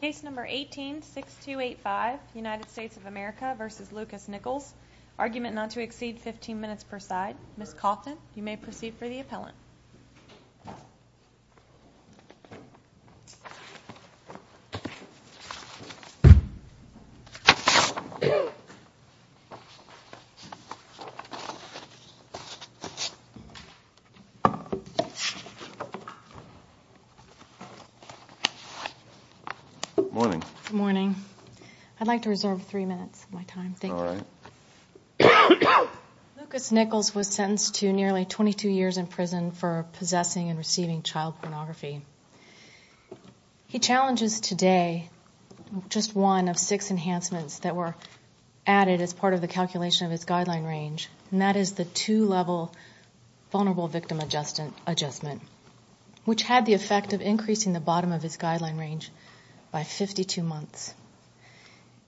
Case number 18-6285, United States of America v. Lucas Nichols. Argument not to exceed 15 minutes per side. Ms. Cawthon, you may proceed for the appellant. Good morning. I'd like to reserve three minutes of my time, thank you. All right. Lucas Nichols was sentenced to nearly 22 years in prison for possessing and receiving child pornography. He challenges today just one of six enhancements that were added as part of the calculation of his guideline range, and that is the two-level vulnerable victim adjustment, which had the effect of increasing the bottom of his guideline range by 52 months.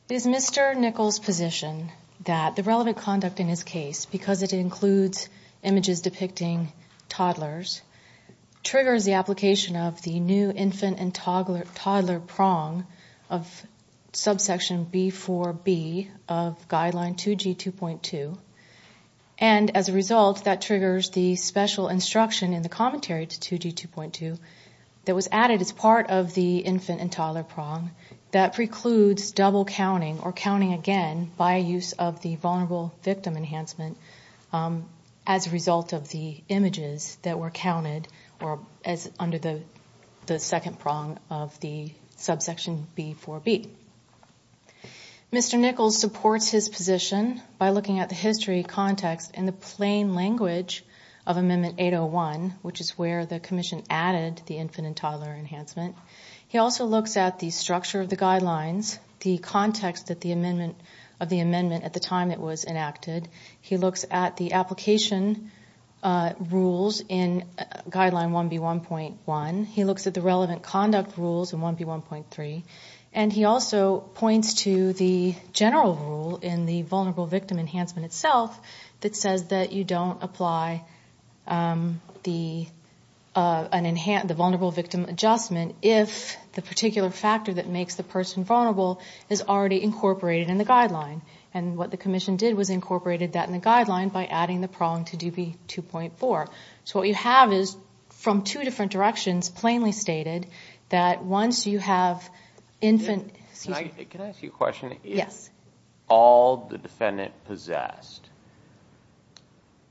Is Mr. Nichols' position that the relevant conduct in his case, because it includes images depicting toddlers, triggers the application of the new infant and toddler prong of subsection B4b of guideline 2G2.2, and as a result, that triggers the special instruction in the commentary to 2G2.2 that was added as part of the infant and toddler prong that precludes double counting or counting again by use of the vulnerable victim enhancement as a result of the images that were counted under the second prong of the subsection B4b. Mr. Nichols supports his position by looking at the history, context, and the plain language of Amendment 801, which is where the Commission added the infant and toddler enhancement. He also looks at the structure of the guidelines, the context of the amendment at the time it was enacted. He looks at the application rules in Guideline 1B1.1. He looks at the relevant conduct rules in 1B1.3. And he also points to the general rule in the vulnerable victim enhancement itself that says that you don't apply the vulnerable victim adjustment if the particular factor that makes the person vulnerable is already incorporated in the guideline. And what the Commission did was incorporated that in the guideline by adding the prong to 2B2.4. So what you have is, from two different directions, plainly stated that once you have infant... Excuse me. Can I ask you a question? Yes. If all the defendant possessed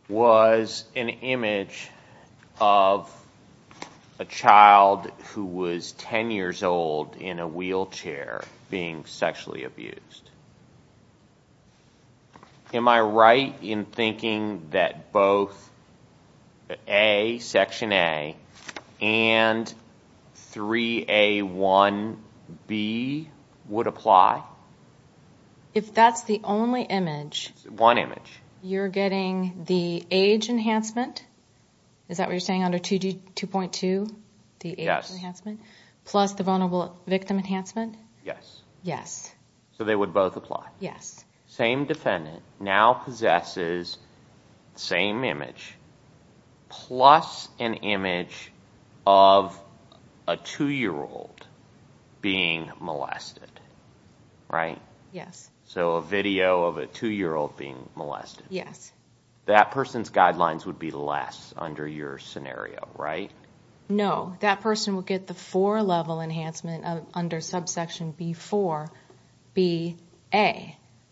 was an image of a child who was 10 years old in a wheelchair being sexually abused, am I right in thinking that both Section A and 3A1B would apply? If that's the only image... One image. You're getting the age enhancement? Is that what you're saying, under 2.2, the age enhancement? Yes. Plus the vulnerable victim enhancement? Yes. Yes. So they would both apply? Yes. Same defendant now possesses the same image plus an image of a 2-year-old being molested, right? Yes. So a video of a 2-year-old being molested. Yes. That person's guidelines would be less under your scenario, right? No. That person would get the four-level enhancement under subsection B4BA.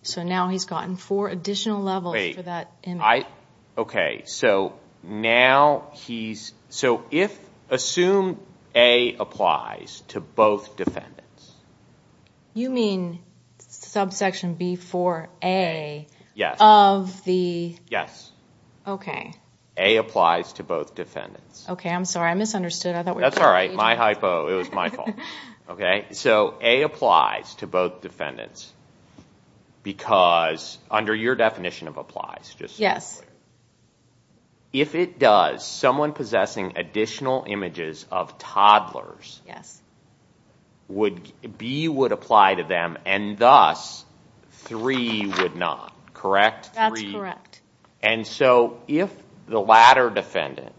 So now he's gotten four additional levels for that image. Wait. I... Okay. So now he's... So if... Assume A applies to both defendants. You mean subsection B4A of the... Yes. Yes. Okay. A applies to both defendants. Okay. I'm sorry. I misunderstood. I thought we were... That's all right. My hypo. It was my fault. Okay. So A applies to both defendants because, under your definition of applies, just... Yes. If it does, someone possessing additional images of toddlers... Yes. B would apply to them, and thus, 3 would not, correct? That's correct. And so if the latter defendant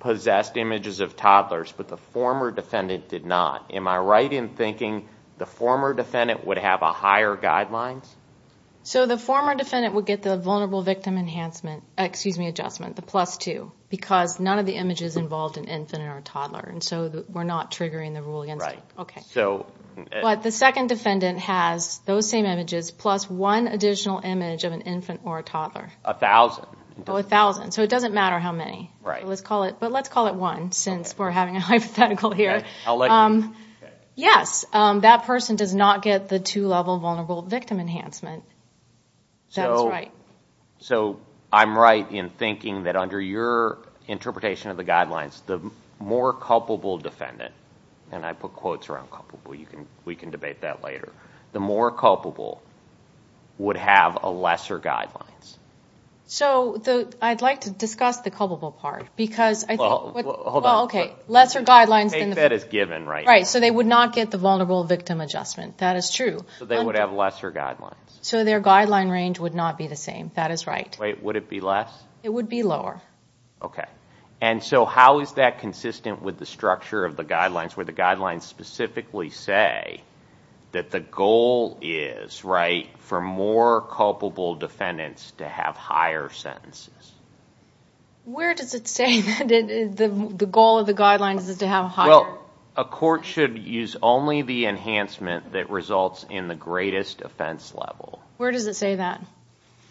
possessed images of toddlers, but the former defendant did not, am I right in thinking the former defendant would have a higher guideline? So the former defendant would get the vulnerable victim enhancement... Excuse me, adjustment, the plus 2, because none of the images involved an infant or a toddler, and so we're not triggering the rule against them. Right. Okay. So... The former defendant has those same images plus one additional image of an infant or a toddler. A thousand. A thousand. So it doesn't matter how many. Right. But let's call it one since we're having a hypothetical here. I'll let you... Yes. That person does not get the two-level vulnerable victim enhancement. That was right. So I'm right in thinking that under your interpretation of the guidelines, the more culpable defendant, and I put quotes around culpable. You can... We can debate that later. The more culpable would have a lesser guidelines. So I'd like to discuss the culpable part because I think... Well, hold on. Well, okay. Lesser guidelines than the... I take that as given right now. Right. So they would not get the vulnerable victim adjustment. That is true. So they would have lesser guidelines. So their guideline range would not be the same. That is right. Wait, would it be less? It would be lower. Okay. And so how is that consistent with the structure of the guidelines where the guidelines specifically say that the goal is, right, for more culpable defendants to have higher sentences? Where does it say that the goal of the guidelines is to have higher... Well, a court should use only the enhancement that results in the greatest offense level. Where does it say that?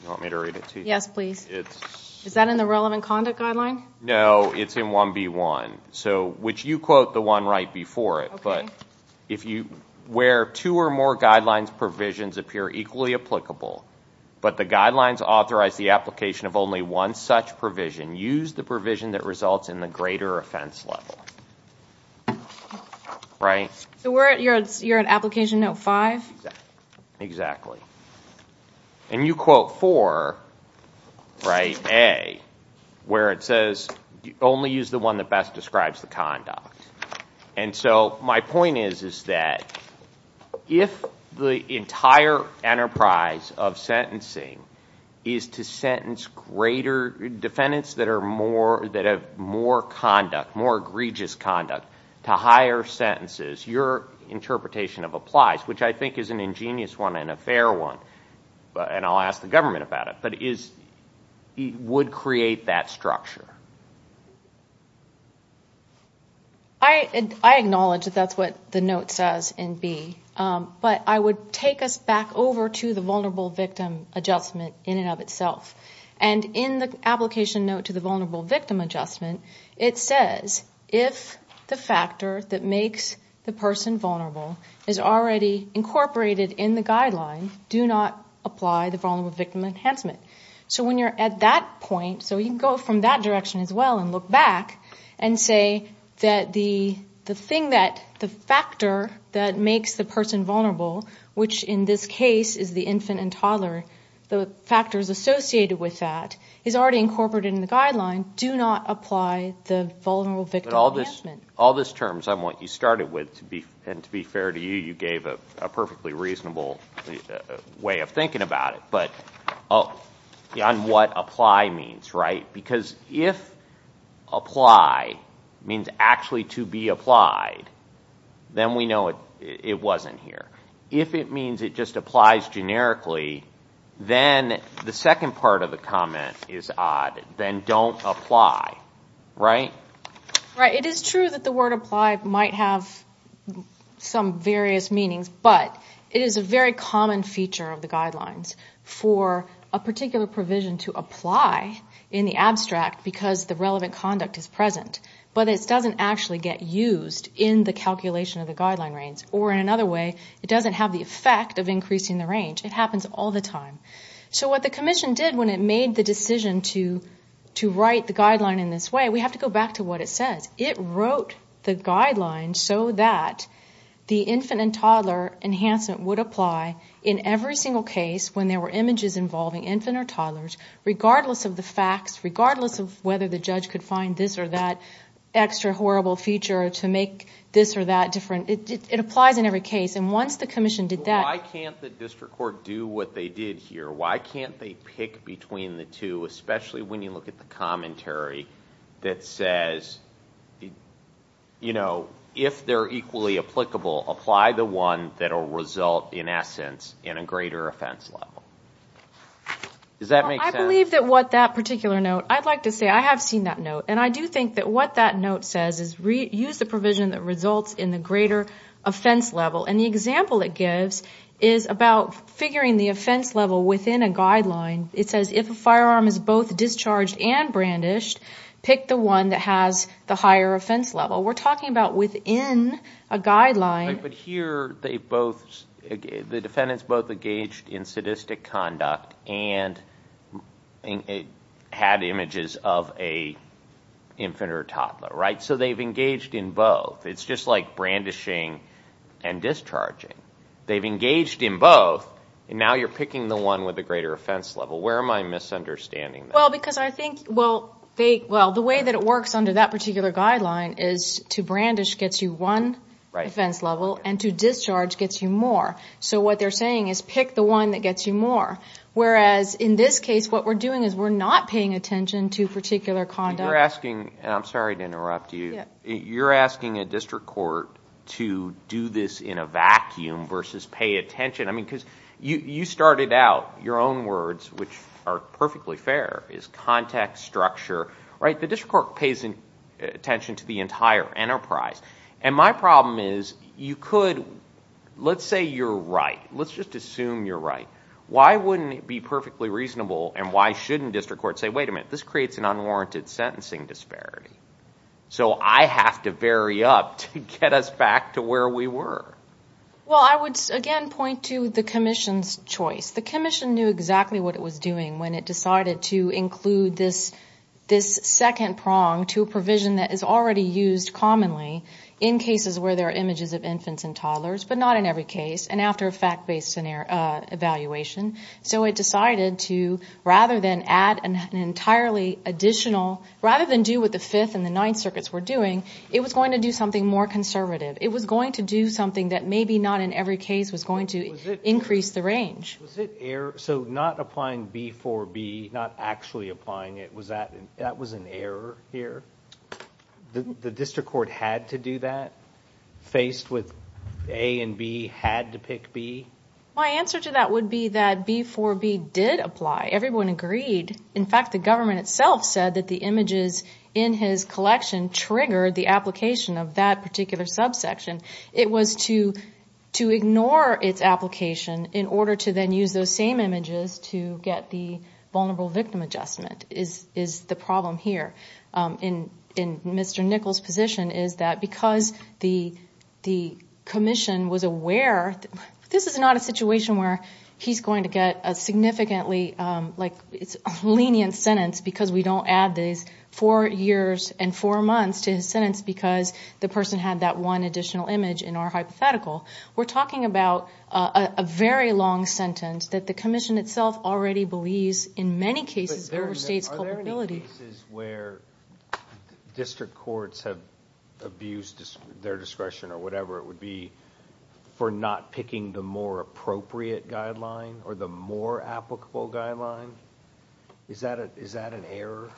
You want me to read it to you? Yes, please. It's... Is that in the relevant conduct guideline? No, it's in 1B1. So, which you quote the one right before it. Okay. But if you... Where two or more guidelines provisions appear equally applicable, but the guidelines authorize the application of only one such provision, use the provision that results in the greater offense level. Right? So you're at Application Note 5? Exactly. And you quote 4, right, A, where it says only use the one that best describes the conduct. And so my point is that if the entire enterprise of sentencing is to sentence greater defendants that have more conduct, more egregious conduct, to higher sentences, your interpretation applies, which I think is an ingenious one and a fair one. And I'll ask the government about it. But it would create that structure. I acknowledge that that's what the note says in B. But I would take us back over to the Vulnerable Victim Adjustment in and of itself. And in the Application Note to the Vulnerable Victim Adjustment, it says if the factor that makes the person vulnerable is already incorporated in the guideline, do not apply the Vulnerable Victim Enhancement. So when you're at that point, so you can go from that direction as well and look back and say that the thing that, the factor that makes the person vulnerable, which in this case is the infant and toddler, the factors associated with that is already incorporated in the guideline, do not apply the Vulnerable Victim Enhancement. But all this terms I want you started with, and to be fair to you, you gave a perfectly reasonable way of thinking about it. But on what apply means, right? Because if apply means actually to be applied, then we know it wasn't here. If it means it just applies generically, then the second part of the comment is odd. Then don't apply, right? It is true that the word apply might have some various meanings, but it is a very common feature of the guidelines for a particular provision to apply in the abstract because the relevant conduct is present. But it doesn't actually get used in the calculation of the guideline range. Or in another way, it doesn't have the effect of increasing the range. It happens all the time. So what the commission did when it made the decision to write the guideline in this way, we have to go back to what it says. It wrote the guideline so that the infant and toddler enhancement would apply in every single case when there were images involving infant or toddlers, regardless of the facts, regardless of whether the judge could find this or that extra horrible feature to make this or that different. It applies in every case. And once the commission did that— Why can't the district court do what they did here? Why can't they pick between the two, especially when you look at the commentary that says, you know, if they're equally applicable, apply the one that will result, in essence, in a greater offense level. Does that make sense? I believe that what that particular note— I'd like to say I have seen that note. And I do think that what that note says is use the provision that results in the greater offense level. And the example it gives is about figuring the offense level within a guideline. It says if a firearm is both discharged and brandished, pick the one that has the higher offense level. We're talking about within a guideline. But here, the defendants both engaged in sadistic conduct and had images of an infant or toddler, right? So they've engaged in both. It's just like brandishing and discharging. They've engaged in both, and now you're picking the one with the greater offense level. Where am I misunderstanding that? Well, because I think— Well, the way that it works under that particular guideline is to brandish gets you one offense level, and to discharge gets you more. So what they're saying is pick the one that gets you more. Whereas in this case, what we're doing is we're not paying attention to particular conduct. You're asking—and I'm sorry to interrupt you. You're asking a district court to do this in a vacuum versus pay attention. I mean, because you started out your own words, which are perfectly fair, is context, structure, right? The district court pays attention to the entire enterprise. And my problem is you could—let's say you're right. Let's just assume you're right. Why wouldn't it be perfectly reasonable, and why shouldn't district courts say, wait a minute, this creates an unwarranted sentencing disparity? So I have to vary up to get us back to where we were. Well, I would again point to the commission's choice. The commission knew exactly what it was doing when it decided to include this second prong to a provision that is already used commonly in cases where there are images of infants and toddlers, but not in every case, and after a fact-based evaluation. So it decided to, rather than add an entirely additional— rather than do what the Fifth and the Ninth Circuits were doing, it was going to do something more conservative. It was going to do something that maybe not in every case was going to increase the range. So not applying B for B, not actually applying it, that was an error here? The district court had to do that, faced with A and B had to pick B? My answer to that would be that B for B did apply. Everyone agreed. In fact, the government itself said that the images in his collection triggered the application of that particular subsection. It was to ignore its application in order to then use those same images to get the vulnerable victim adjustment is the problem here. And Mr. Nichols' position is that because the commission was aware— this is not a situation where he's going to get a significantly lenient sentence because we don't add these four years and four months to his sentence because the person had that one additional image in our hypothetical. We're talking about a very long sentence that the commission itself already believes in many cases overstates culpability. Are there any cases where district courts have abused their discretion or whatever it would be for not picking the more appropriate guideline or the more applicable guideline? Is that an error?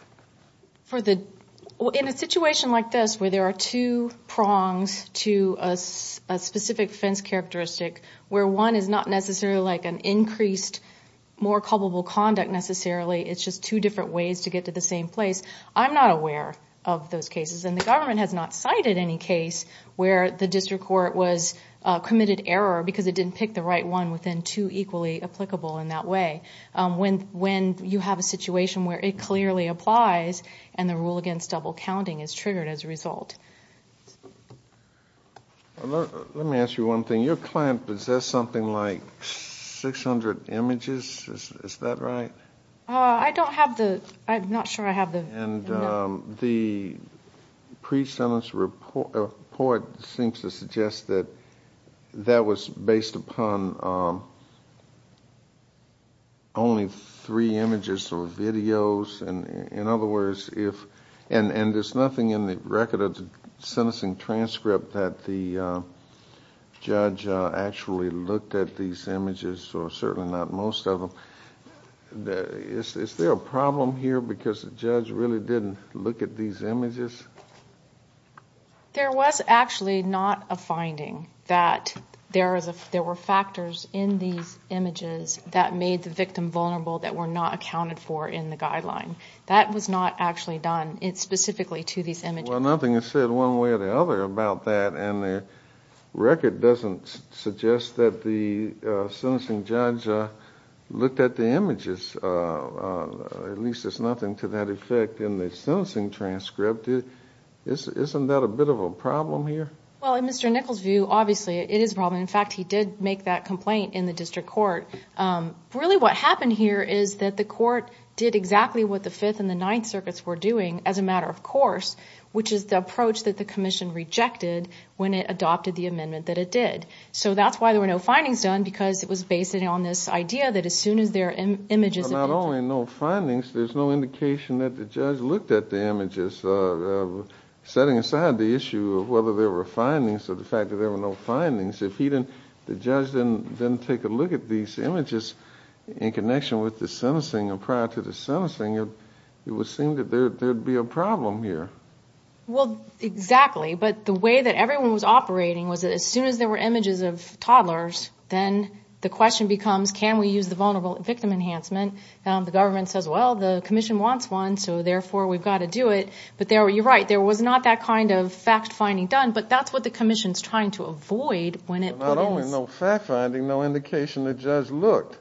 In a situation like this where there are two prongs to a specific offense characteristic where one is not necessarily like an increased more culpable conduct necessarily, it's just two different ways to get to the same place, I'm not aware of those cases. And the government has not cited any case where the district court was committed error because it didn't pick the right one within two equally applicable in that way. When you have a situation where it clearly applies and the rule against double counting is triggered as a result. Let me ask you one thing. Your client possessed something like 600 images, is that right? I don't have the—I'm not sure I have the— And the pre-sentence report seems to suggest that that was based upon only three images or videos. In other words, if—and there's nothing in the record of the sentencing transcript that the judge actually looked at these images or certainly not most of them. Is there a problem here because the judge really didn't look at these images? There was actually not a finding that there were factors in these images that made the victim vulnerable that were not accounted for in the guideline. That was not actually done specifically to these images. Well, nothing is said one way or the other about that and the record doesn't suggest that the sentencing judge looked at the images. At least there's nothing to that effect in the sentencing transcript. Isn't that a bit of a problem here? Well, in Mr. Nichols' view, obviously it is a problem. In fact, he did make that complaint in the district court. Really what happened here is that the court did exactly what the Fifth and the Ninth Circuits were doing as a matter of course, which is the approach that the commission rejected when it adopted the amendment that it did. So that's why there were no findings done because it was based on this idea that as soon as there are images of the victim— Well, not only no findings, there's no indication that the judge looked at the images. Setting aside the issue of whether there were findings or the fact that there were no findings, if he didn't—the judge didn't take a look at these images in connection with the sentencing or prior to the sentencing, it would seem that there would be a problem here. Well, exactly. But the way that everyone was operating was that as soon as there were images of toddlers, then the question becomes, can we use the vulnerable victim enhancement? The government says, well, the commission wants one, so therefore we've got to do it. But you're right, there was not that kind of fact-finding done, but that's what the commission's trying to avoid when it— Not only no fact-finding, no indication the judge looked.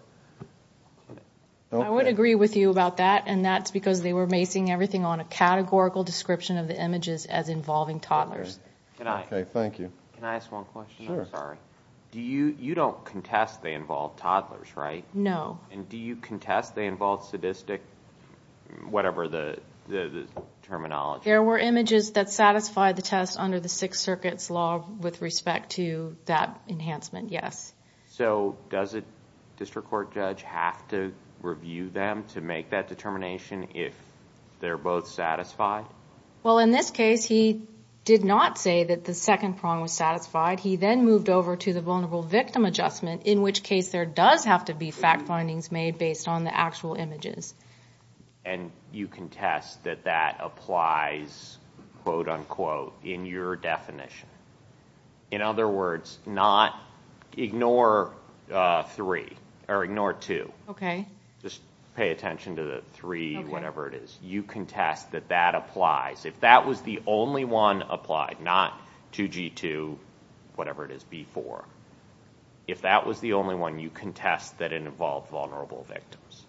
I would agree with you about that, and that's because they were basing everything on a categorical description of the images as involving toddlers. Okay, thank you. Can I ask one question? Sure. I'm sorry. You don't contest they involve toddlers, right? No. And do you contest they involve sadistic—whatever the terminology? There were images that satisfied the test under the Sixth Circuit's law with respect to that enhancement, yes. So does a district court judge have to review them to make that determination if they're both satisfied? Well, in this case, he did not say that the second prong was satisfied. He then moved over to the vulnerable victim adjustment, in which case there does have to be fact-findings made based on the actual images. And you contest that that applies, quote-unquote, in your definition. In other words, not—ignore 3 or ignore 2. Okay. Just pay attention to the 3, whatever it is. You contest that that applies. If that was the only one applied, not 2G2, whatever it is, B4, if that was the only one, you contest that it involved vulnerable victims.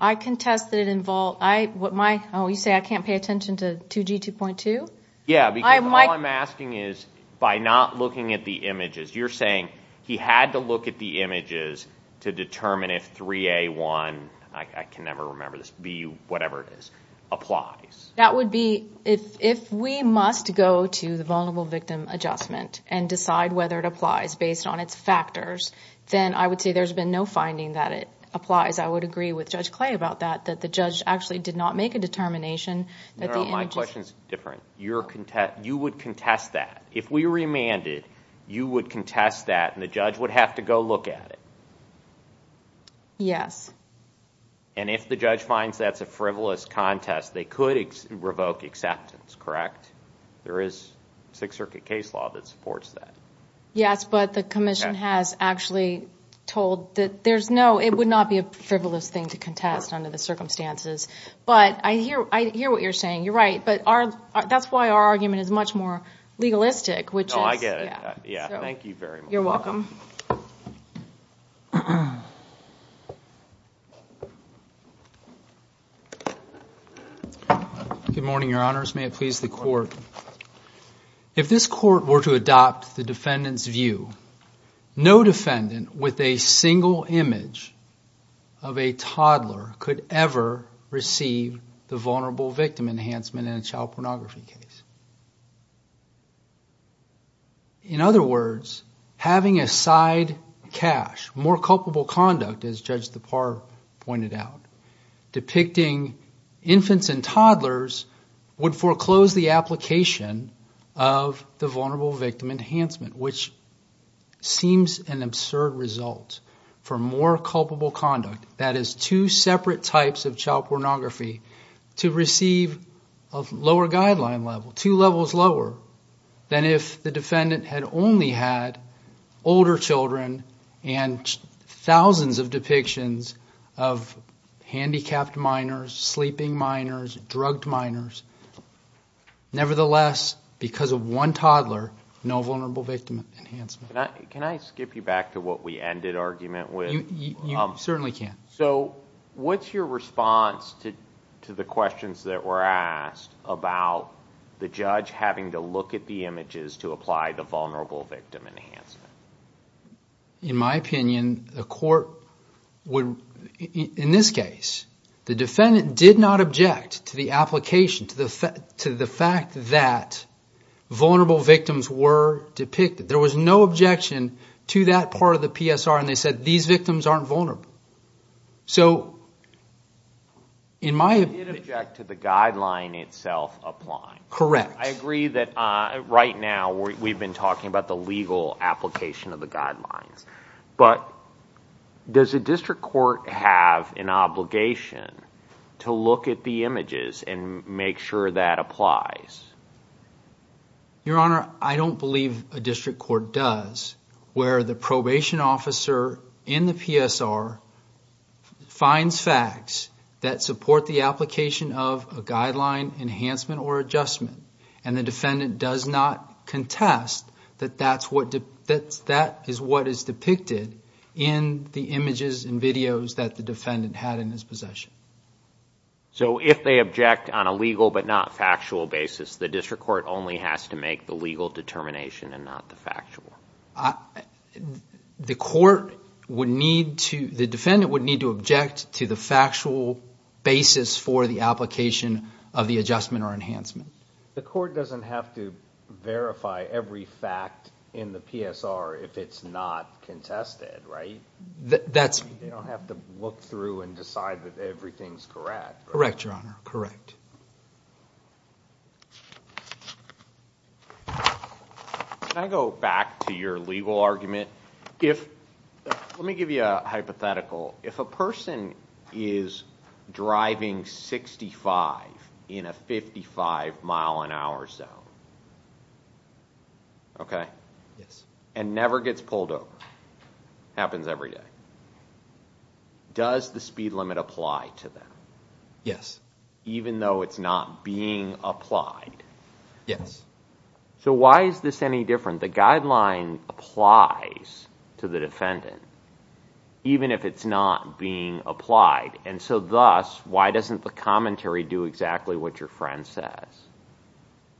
I contest that it involved—oh, you say I can't pay attention to 2G2.2? Yeah, because all I'm asking is, by not looking at the images, you're saying he had to look at the images to determine if 3A1, I can never remember this, B, whatever it is, applies. That would be—if we must go to the vulnerable victim adjustment and decide whether it applies based on its factors, then I would say there's been no finding that it applies. I would agree with Judge Clay about that, that the judge actually did not make a determination that the images— you would contest that. If we remanded, you would contest that, and the judge would have to go look at it. Yes. And if the judge finds that's a frivolous contest, they could revoke acceptance, correct? There is Sixth Circuit case law that supports that. Yes, but the commission has actually told that there's no— it would not be a frivolous thing to contest under the circumstances. But I hear what you're saying. You're right, but that's why our argument is much more legalistic, which is— Oh, I get it. Yeah, thank you very much. You're welcome. Good morning, Your Honors. May it please the Court. If this Court were to adopt the defendant's view, no defendant with a single image of a toddler could ever receive the Vulnerable Victim Enhancement in a child pornography case. In other words, having a side cache, more culpable conduct, as Judge DePauw pointed out, depicting infants and toddlers would foreclose the application of the Vulnerable Victim Enhancement, which seems an absurd result for more culpable conduct. That is, two separate types of child pornography to receive a lower guideline level, two levels lower, than if the defendant had only had older children and thousands of depictions of handicapped minors, sleeping minors, drugged minors. Nevertheless, because of one toddler, no Vulnerable Victim Enhancement. Can I skip you back to what we ended argument with? You certainly can. What's your response to the questions that were asked about the judge having to look at the images to apply the Vulnerable Victim Enhancement? In my opinion, the Court would, in this case, the defendant did not object to the application, to the fact that vulnerable victims were depicted. There was no objection to that part of the PSR, and they said these victims aren't vulnerable. You did object to the guideline itself applying. Correct. I agree that right now we've been talking about the legal application of the guidelines, but does a district court have an obligation to look at the images and make sure that applies? Your Honor, I don't believe a district court does, where the probation officer in the PSR finds facts that support the application of a guideline enhancement or adjustment, and the defendant does not contest that that is what is depicted in the images and videos that the defendant had in his possession. So if they object on a legal but not factual basis, the district court only has to make the legal determination and not the factual. The defendant would need to object to the factual basis for the application of the adjustment or enhancement. The court doesn't have to verify every fact in the PSR if it's not contested, right? They don't have to look through and decide that everything's correct. Correct, Your Honor, correct. Can I go back to your legal argument? Let me give you a hypothetical. If a person is driving 65 in a 55-mile-an-hour zone, okay, and never gets pulled over, happens every day, does the speed limit apply to them, even though it's not being applied? Yes. So why is this any different? The guideline applies to the defendant, even if it's not being applied, and so thus, why doesn't the commentary do exactly what your friend says?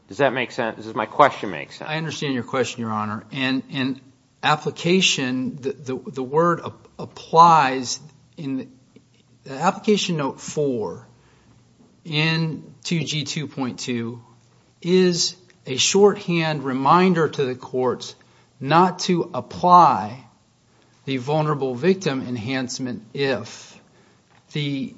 Does that make sense? Does my question make sense? I understand your question, Your Honor, and application, the word applies in application note 4 in 2G2.2 is a shorthand reminder to the courts not to apply the vulnerable victim enhancement if the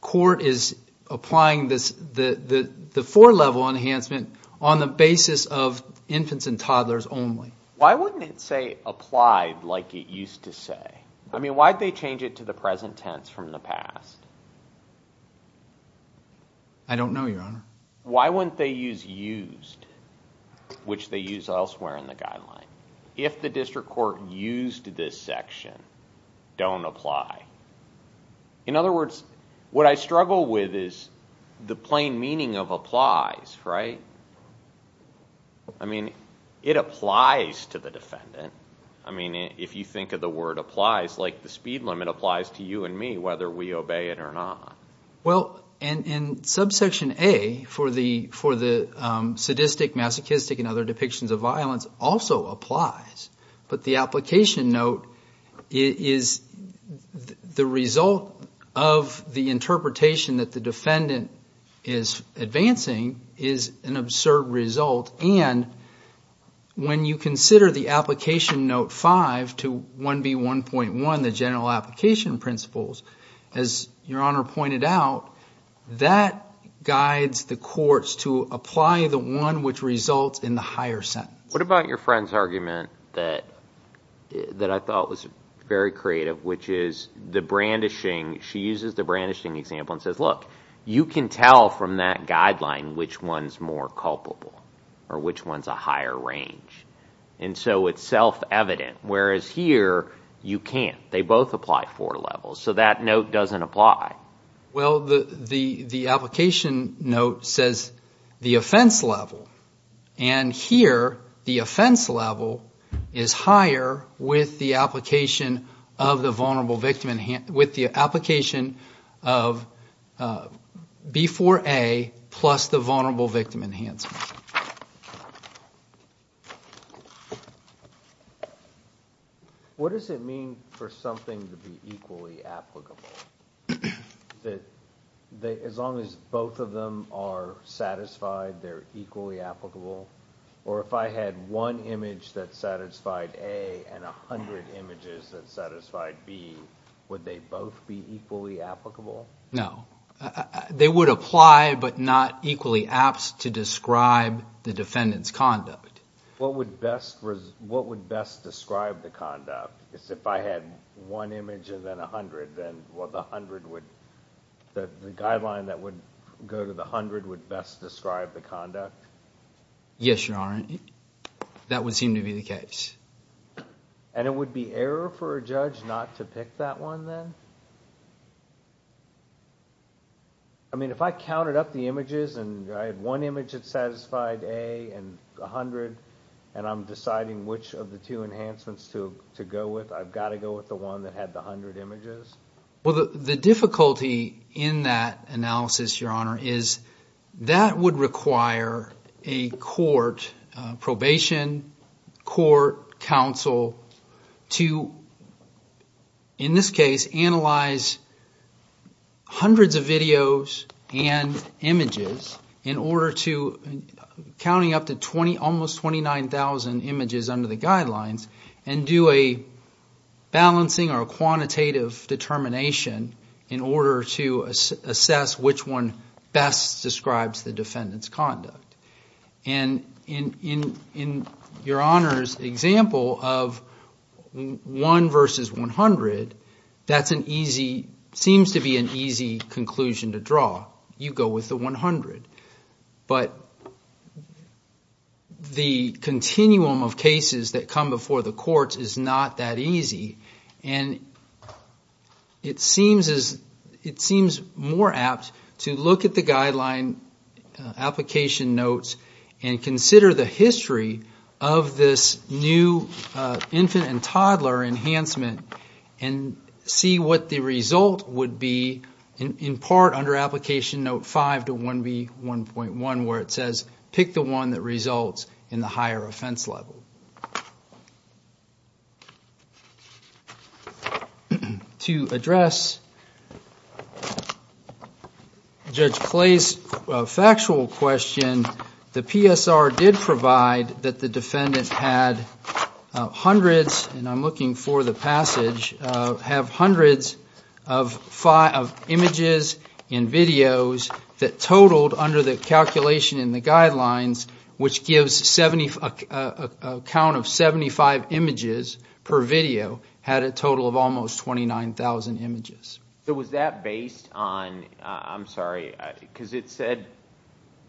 court is applying the four-level enhancement on the basis of infants and toddlers only. Why wouldn't it say applied like it used to say? I mean, why'd they change it to the present tense from the past? I don't know, Your Honor. Why wouldn't they use used, which they use elsewhere in the guideline, if the district court used this section, don't apply? In other words, what I struggle with is the plain meaning of applies, right? I mean, it applies to the defendant. I mean, if you think of the word applies, like the speed limit applies to you and me whether we obey it or not. Well, in subsection A for the sadistic, masochistic, and other depictions of violence also applies, but the application note is the result of the interpretation that the defendant is advancing is an absurd result, and when you consider the application note 5 to 1B1.1, the general application principles, as Your Honor pointed out, that guides the courts to apply the one which results in the higher sentence. What about your friend's argument that I thought was very creative, which is the brandishing. She uses the brandishing example and says, look, you can tell from that guideline which one's more culpable or which one's a higher range, and so it's self-evident, whereas here you can't. They both apply four levels, so that note doesn't apply. Well, the application note says the offense level, and here the offense level is higher with the application of B4A plus the vulnerable victim enhancement. What does it mean for something to be equally applicable? As long as both of them are satisfied, they're equally applicable? Or if I had one image that satisfied A and 100 images that satisfied B, would they both be equally applicable? No. They would apply, but not equally apt to describe the defendant's conduct. What would best describe the conduct? If I had one image and then 100, then the guideline that would go to the 100 would best describe the conduct? Yes, Your Honor. That would seem to be the case. And it would be error for a judge not to pick that one then? If I counted up the images and I had one image that satisfied A and 100 and I'm deciding which of the two enhancements to go with, I've got to go with the one that had the 100 images? The difficulty in that analysis, Your Honor, is that would require a court, probation, court, counsel, to, in this case, analyze hundreds of videos and images in order to, counting up to almost 29,000 images under the guidelines, and do a balancing or a quantitative determination in order to assess which one best describes the defendant's conduct. And in Your Honor's example of one versus 100, that seems to be an easy conclusion to draw. You go with the 100. But the continuum of cases that come before the courts is not that easy. And it seems more apt to look at the guideline application notes and consider the history of this new infant and toddler enhancement and see what the result would be in part under application note 5 to 1B1.1 where it says pick the one that results in the higher offense level. To address Judge Clay's factual question, the PSR did provide that the defendant had hundreds, and I'm looking for the passage, have hundreds of images and videos that totaled under the calculation in the guidelines which gives a count of 75 images per video had a total of almost 29,000 images. So was that based on, I'm sorry, because it said,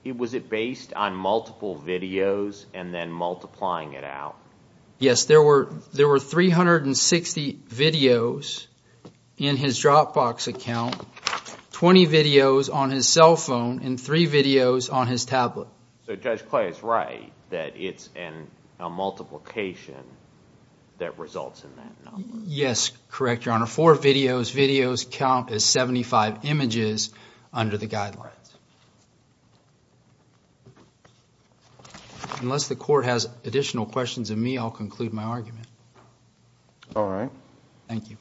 was it based on multiple videos and then multiplying it out? Yes, there were 360 videos in his Dropbox account, 20 videos on his cell phone, and 3 videos on his tablet. So Judge Clay is right that it's a multiplication that results in that number. Yes, correct, Your Honor. Four videos, videos count as 75 images under the guidelines. Unless the court has additional questions of me, I'll conclude my argument. All right. Thank you.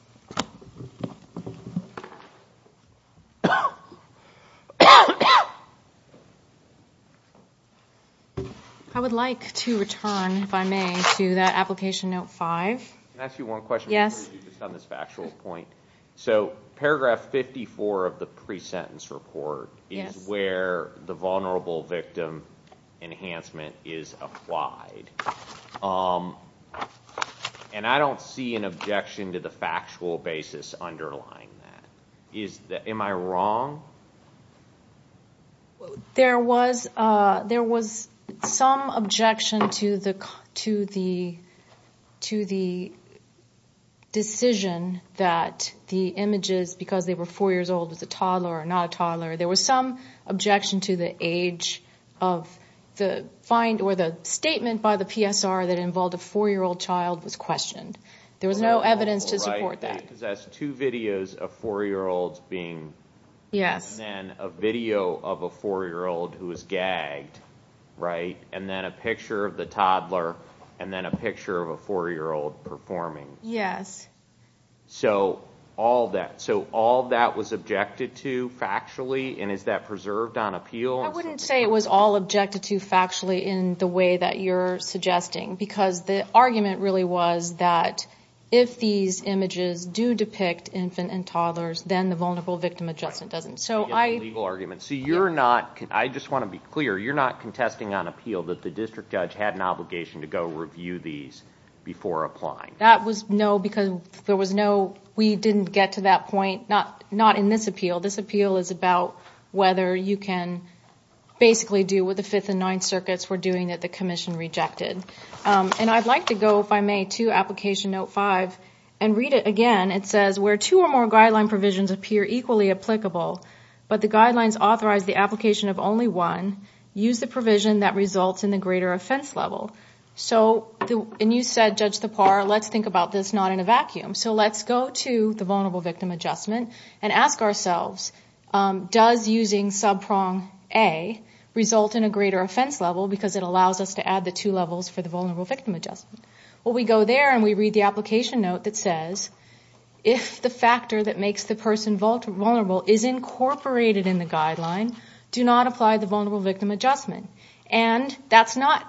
I would like to return, if I may, to that application note 5. Can I ask you one question? Yes. Just on this factual point. So paragraph 54 of the pre-sentence report is where the vulnerable victim enhancement is applied. And I don't see an objection to the factual basis underlying that. Am I wrong? There was some objection to the decision that the images, because they were four years old, was a toddler or not a toddler. There was some objection to the age of the find or the statement by the PSR that involved a four-year-old child was questioned. There was no evidence to support that. It possessed two videos of four-year-olds being, and then a video of a four-year-old who was gagged, right? And then a picture of the toddler, and then a picture of a four-year-old performing. Yes. So all that was objected to factually, and is that preserved on appeal? I wouldn't say it was all objected to factually in the way that you're suggesting, because the argument really was that if these images do depict infant and toddlers, then the vulnerable victim adjustment doesn't. So you're not, I just want to be clear, you're not contesting on appeal that the district judge had an obligation to go review these before applying. That was no, because there was no, we didn't get to that point, not in this appeal. This appeal is about whether you can basically do what the Fifth and Ninth Circuits were doing that the commission rejected. And I'd like to go, if I may, to Application Note 5 and read it again. It says, where two or more guideline provisions appear equally applicable, but the guidelines authorize the application of only one, use the provision that results in the greater offense level. So, and you said, Judge Thapar, let's think about this not in a vacuum. So let's go to the vulnerable victim adjustment and ask ourselves, does using subprong A result in a greater offense level, because it allows us to add the two levels for the vulnerable victim adjustment? Well, we go there and we read the application note that says, if the factor that makes the person vulnerable is incorporated in the guideline, do not apply the vulnerable victim adjustment. And that's not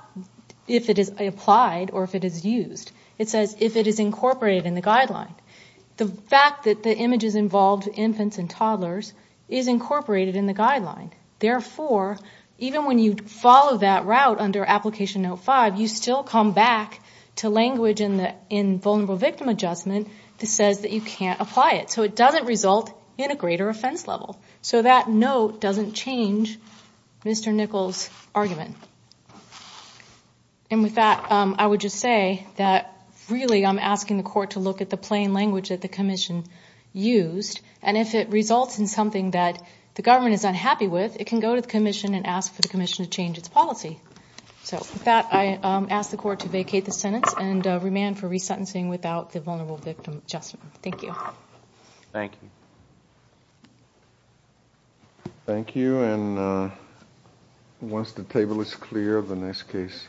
if it is applied or if it is used. It says if it is incorporated in the guideline. The fact that the image is involved infants and toddlers is incorporated in the guideline. Therefore, even when you follow that route under Application Note 5, you still come back to language in vulnerable victim adjustment that says that you can't apply it. So it doesn't result in a greater offense level. So that note doesn't change Mr. Nichols' argument. And with that, I would just say that, really, I'm asking the court to look at the plain language that the commission used. And if it results in something that the government is unhappy with, it can go to the commission and ask for the commission to change its policy. So with that, I ask the court to vacate the sentence and remand for resentencing without the vulnerable victim adjustment. Thank you. Thank you. Thank you. And once the table is clear, the next case.